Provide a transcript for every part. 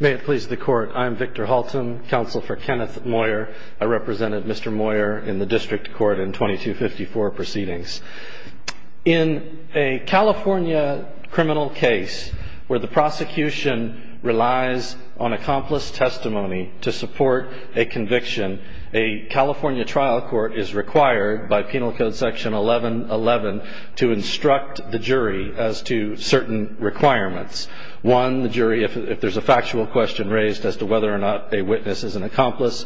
May it please the Court, I'm Victor Halton, Counsel for Kenneth Moyer. I represented Mr. Moyer in the District Court in 2254 proceedings. In a California criminal case where the prosecution relies on accomplice testimony to support a conviction, a California trial court is required by Penal Code Section 1111 to instruct the jury as to certain requirements. One, the jury, if there's a factual question raised as to whether or not a witness is an accomplice,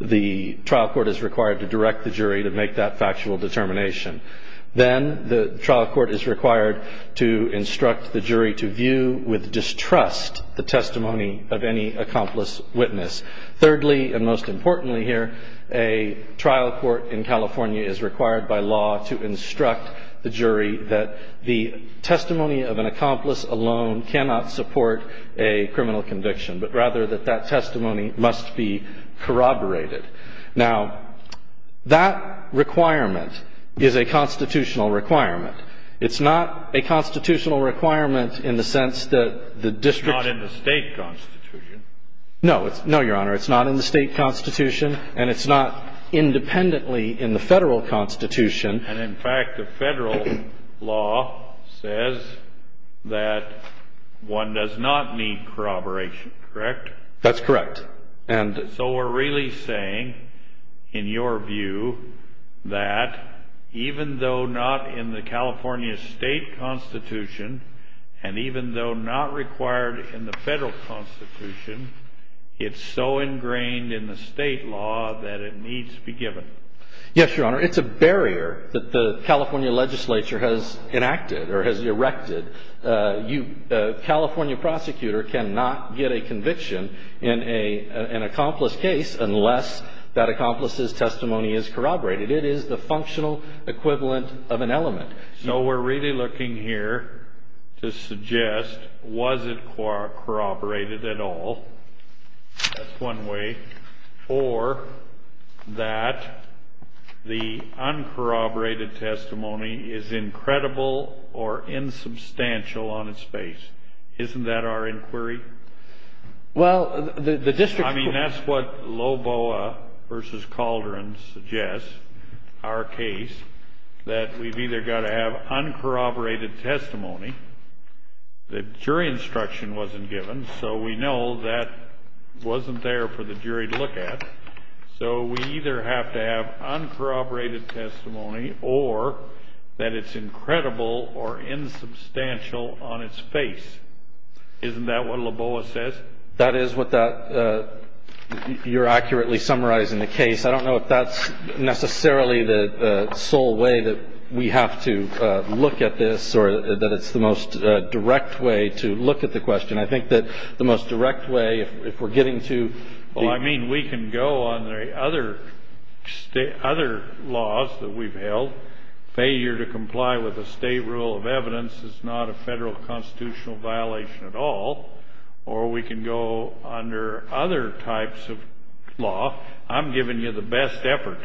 the trial court is required to direct the jury to make that factual determination. Then the trial court is required to instruct the jury to view with distrust the testimony of any accomplice witness. Thirdly, and most importantly here, a trial court in California is required by law to instruct the jury that the testimony of an accomplice alone cannot support a criminal conviction, but rather that that testimony must be corroborated. Now, that requirement is a constitutional requirement. It's not a constitutional requirement in the sense that the district's… It's not in the state constitution. No. No, Your Honor. It's not in the state constitution, and it's not independently in the Federal Constitution. And, in fact, the Federal law says that one does not need corroboration, correct? That's correct. So we're really saying, in your view, that even though not in the California state constitution and even though not required in the Federal constitution, it's so ingrained in the state law that it needs to be given. Yes, Your Honor. It's a barrier that the California legislature has enacted or has erected. A California prosecutor cannot get a conviction in an accomplice case unless that accomplice's testimony is corroborated. It is the functional equivalent of an element. So we're really looking here to suggest, was it corroborated at all? That's one way. Or that the uncorroborated testimony is incredible or insubstantial on its face. Isn't that our inquiry? Well, the district… I mean, that's what Loboa v. Calderon suggests, our case, that we've either got to have uncorroborated testimony. The jury instruction wasn't given, so we know that wasn't there for the jury to look at. So we either have to have uncorroborated testimony or that it's incredible or insubstantial on its face. Isn't that what Loboa says? That is what you're accurately summarizing the case. I don't know if that's necessarily the sole way that we have to look at this or that it's the most direct way to look at the question. I think that the most direct way, if we're getting to… Well, I mean, we can go on the other laws that we've held. Failure to comply with a state rule of evidence is not a federal constitutional violation at all. Or we can go under other types of law. I'm giving you the best effort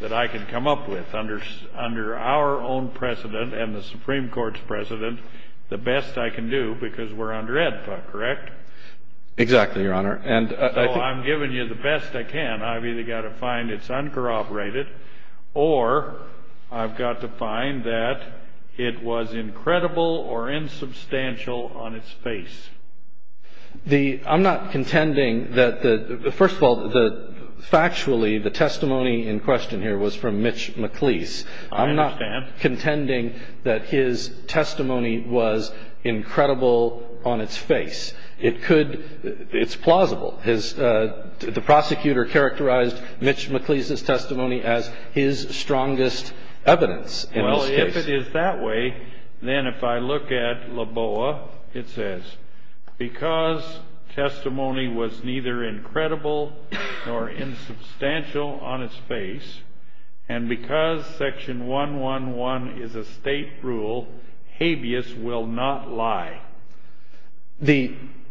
that I can come up with under our own precedent and the Supreme Court's precedent, the best I can do, because we're under ad hoc, correct? Exactly, Your Honor. So I'm giving you the best I can. I've either got to find it's uncorroborated or I've got to find that it was incredible or insubstantial on its face. I'm not contending that the – first of all, factually, the testimony in question here was from Mitch McLeese. I understand. I'm not contending that his testimony was incredible on its face. It's plausible. The prosecutor characterized Mitch McLeese's testimony as his strongest evidence in this case. Well, if it is that way, then if I look at LABOA, it says, because testimony was neither incredible nor insubstantial on its face, and because Section 111 is a state rule, habeas will not lie.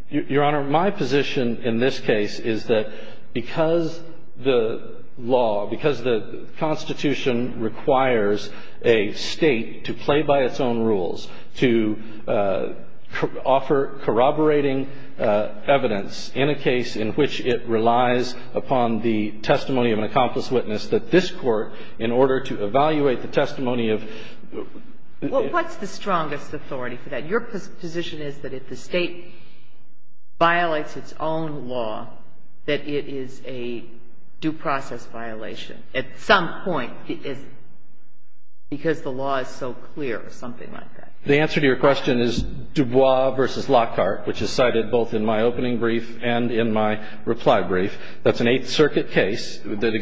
Your Honor, my position in this case is that because the law, because the Constitution requires a state to play by its own rules, to offer corroborating evidence in a case in which it relies upon the testimony of an accomplice witness, that this Court, in order to evaluate the testimony of – Well, what's the strongest authority for that? Your position is that if the state violates its own law, that it is a due process violation at some point because the law is so clear or something like that. The answer to your question is Dubois v. Lockhart, which is cited both in my opening brief and in my reply brief. That's an Eighth Circuit case that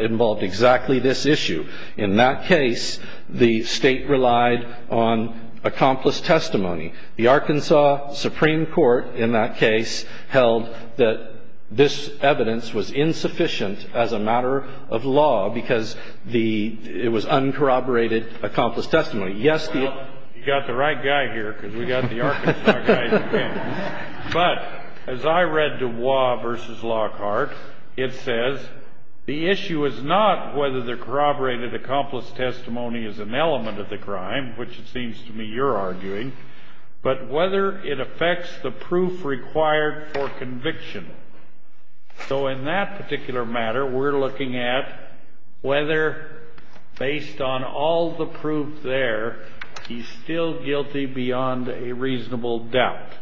involved exactly this issue. In that case, the state relied on accomplice testimony. The Arkansas Supreme Court in that case held that this evidence was insufficient as a matter of law because the – it was uncorroborated accomplice testimony. Yes, the – Well, you got the right guy here because we got the Arkansas guys again. But as I read Dubois v. Lockhart, it says the issue is not whether the corroborated accomplice testimony is an element of the crime, which it seems to me you're arguing, but whether it affects the proof required for conviction. So in that particular matter, we're looking at whether, based on all the proof there, he's still guilty beyond a reasonable doubt.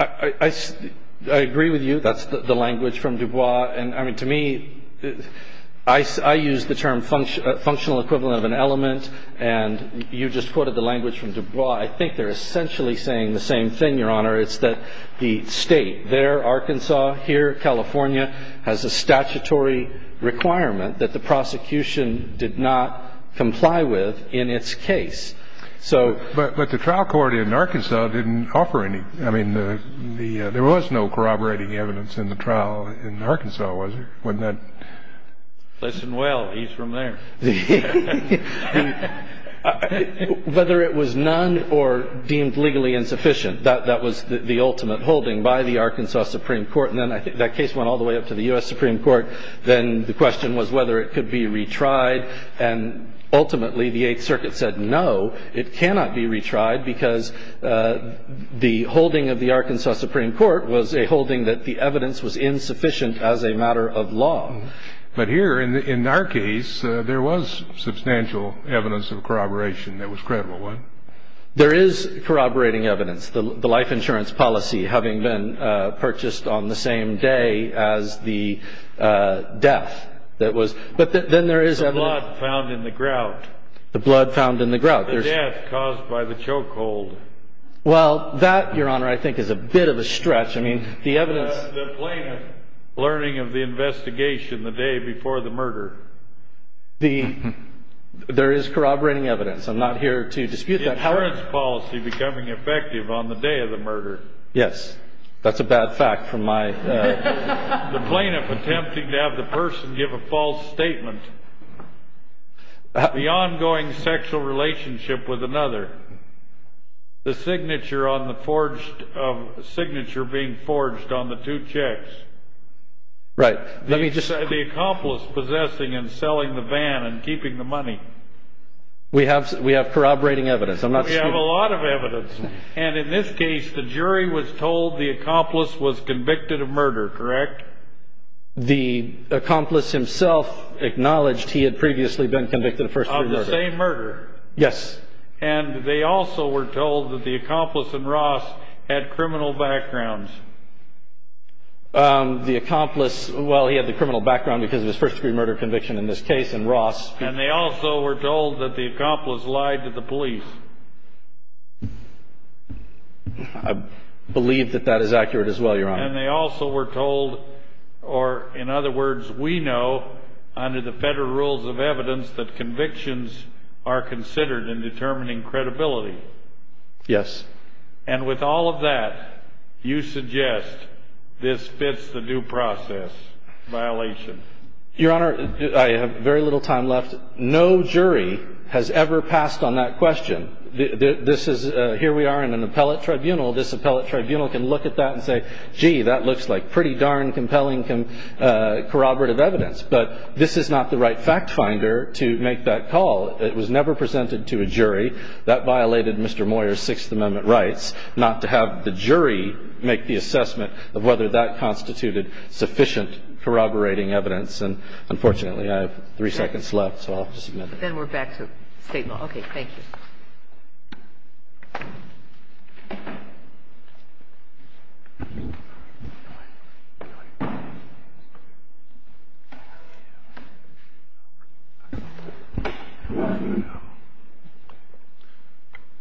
I agree with you. That's the language from Dubois. And, I mean, to me, I use the term functional equivalent of an element, and you just quoted the language from Dubois. I think they're essentially saying the same thing, Your Honor. It's that the state there, Arkansas, here, California, has a statutory requirement that the prosecution did not comply with in its case. So – But the trial court in Arkansas didn't offer any – I mean, there was no corroborating evidence in the trial in Arkansas, was there? Wasn't that – Listen well. He's from there. Whether it was none or deemed legally insufficient, that was the ultimate holding by the Arkansas Supreme Court. And then that case went all the way up to the U.S. Supreme Court. Then the question was whether it could be retried, and ultimately the Eighth Circuit said no, it cannot be retried, because the holding of the Arkansas Supreme Court was a holding that the evidence was insufficient as a matter of law. But here, in our case, there was substantial evidence of corroboration that was credible, wasn't there? There is corroborating evidence. The life insurance policy having been purchased on the same day as the death that was – but then there is evidence – The blood found in the grout. The blood found in the grout. The death caused by the chokehold. Well, that, Your Honor, I think is a bit of a stretch. I mean, the evidence – The plaintiff learning of the investigation the day before the murder. The – there is corroborating evidence. I'm not here to dispute that. The insurance policy becoming effective on the day of the murder. Yes. That's a bad fact from my – The plaintiff attempting to have the person give a false statement. The ongoing sexual relationship with another. The signature on the forged – signature being forged on the two checks. Right. The accomplice possessing and selling the van and keeping the money. We have corroborating evidence. We have a lot of evidence. And in this case, the jury was told the accomplice was convicted of murder, correct? The accomplice himself acknowledged he had previously been convicted of first-degree murder. Of the same murder. Yes. And they also were told that the accomplice and Ross had criminal backgrounds. The accomplice – well, he had the criminal background because of his first-degree murder conviction in this case and Ross. And they also were told that the accomplice lied to the police. I believe that that is accurate as well, Your Honor. And they also were told, or in other words, we know under the federal rules of evidence that convictions are considered in determining credibility. Yes. And with all of that, you suggest this fits the due process violation. Your Honor, I have very little time left. No jury has ever passed on that question. This is – here we are in an appellate tribunal. This appellate tribunal can look at that and say, gee, that looks like pretty darn compelling corroborative evidence. But this is not the right fact finder to make that call. It was never presented to a jury. That violated Mr. Moyer's Sixth Amendment rights not to have the jury make the assessment of whether that constituted sufficient corroborating evidence. And, unfortunately, I have three seconds left, so I'll have to submit it. Then we're back to State law. Good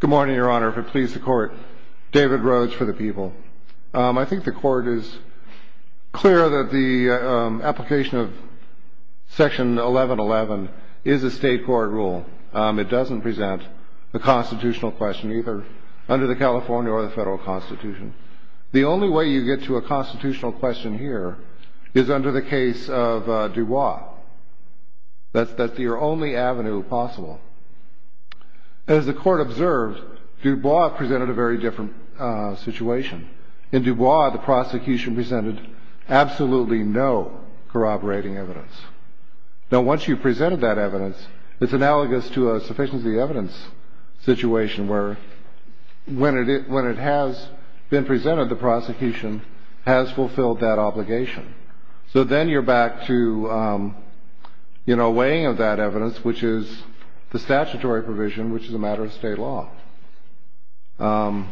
morning, Your Honor. If it please the Court, David Rhodes for the people. I think the Court is clear that the application of Section 1111 is a State court rule. It doesn't present a constitutional question either under the California or the Federal Constitution. The only way you get to a constitutional question here is under the case of Dubois. That's your only avenue possible. As the Court observed, Dubois presented a very different situation. In Dubois, the prosecution presented absolutely no corroborating evidence. Now, once you've presented that evidence, it's analogous to a sufficiency of evidence situation where when it has been presented, the prosecution has fulfilled that obligation. So then you're back to, you know, weighing of that evidence, which is the statutory provision, which is a matter of State law. So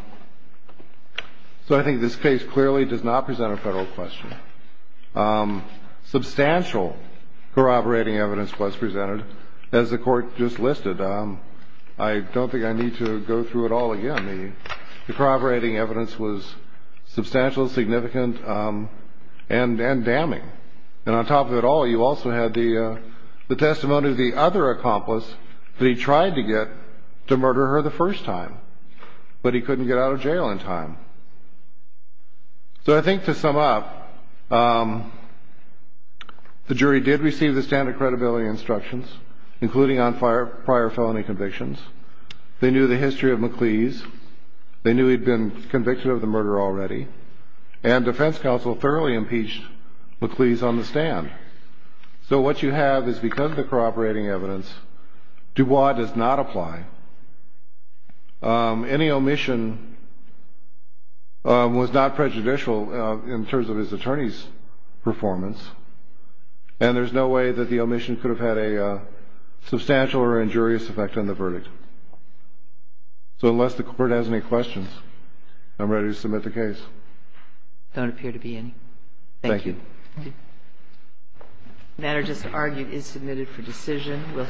I think this case clearly does not present a Federal question. Substantial corroborating evidence was presented. As the Court just listed, I don't think I need to go through it all again. The corroborating evidence was substantial, significant, and damning. And on top of it all, you also had the testimony of the other accomplice that he tried to get to murder her the first time, but he couldn't get out of jail in time. So I think to sum up, the jury did receive the standard credibility instructions, including on prior felony convictions. They knew the history of MacLeese. They knew he'd been convicted of the murder already. And defense counsel thoroughly impeached MacLeese on the stand. So what you have is because of the corroborating evidence, Dubois does not apply. Any omission was not prejudicial in terms of his attorney's performance. And there's no way that the omission could have had a substantial or injurious effect on the verdict. So unless the Court has any questions, I'm ready to submit the case. Don't appear to be any. Thank you. Thank you. The matter just argued is submitted for decision.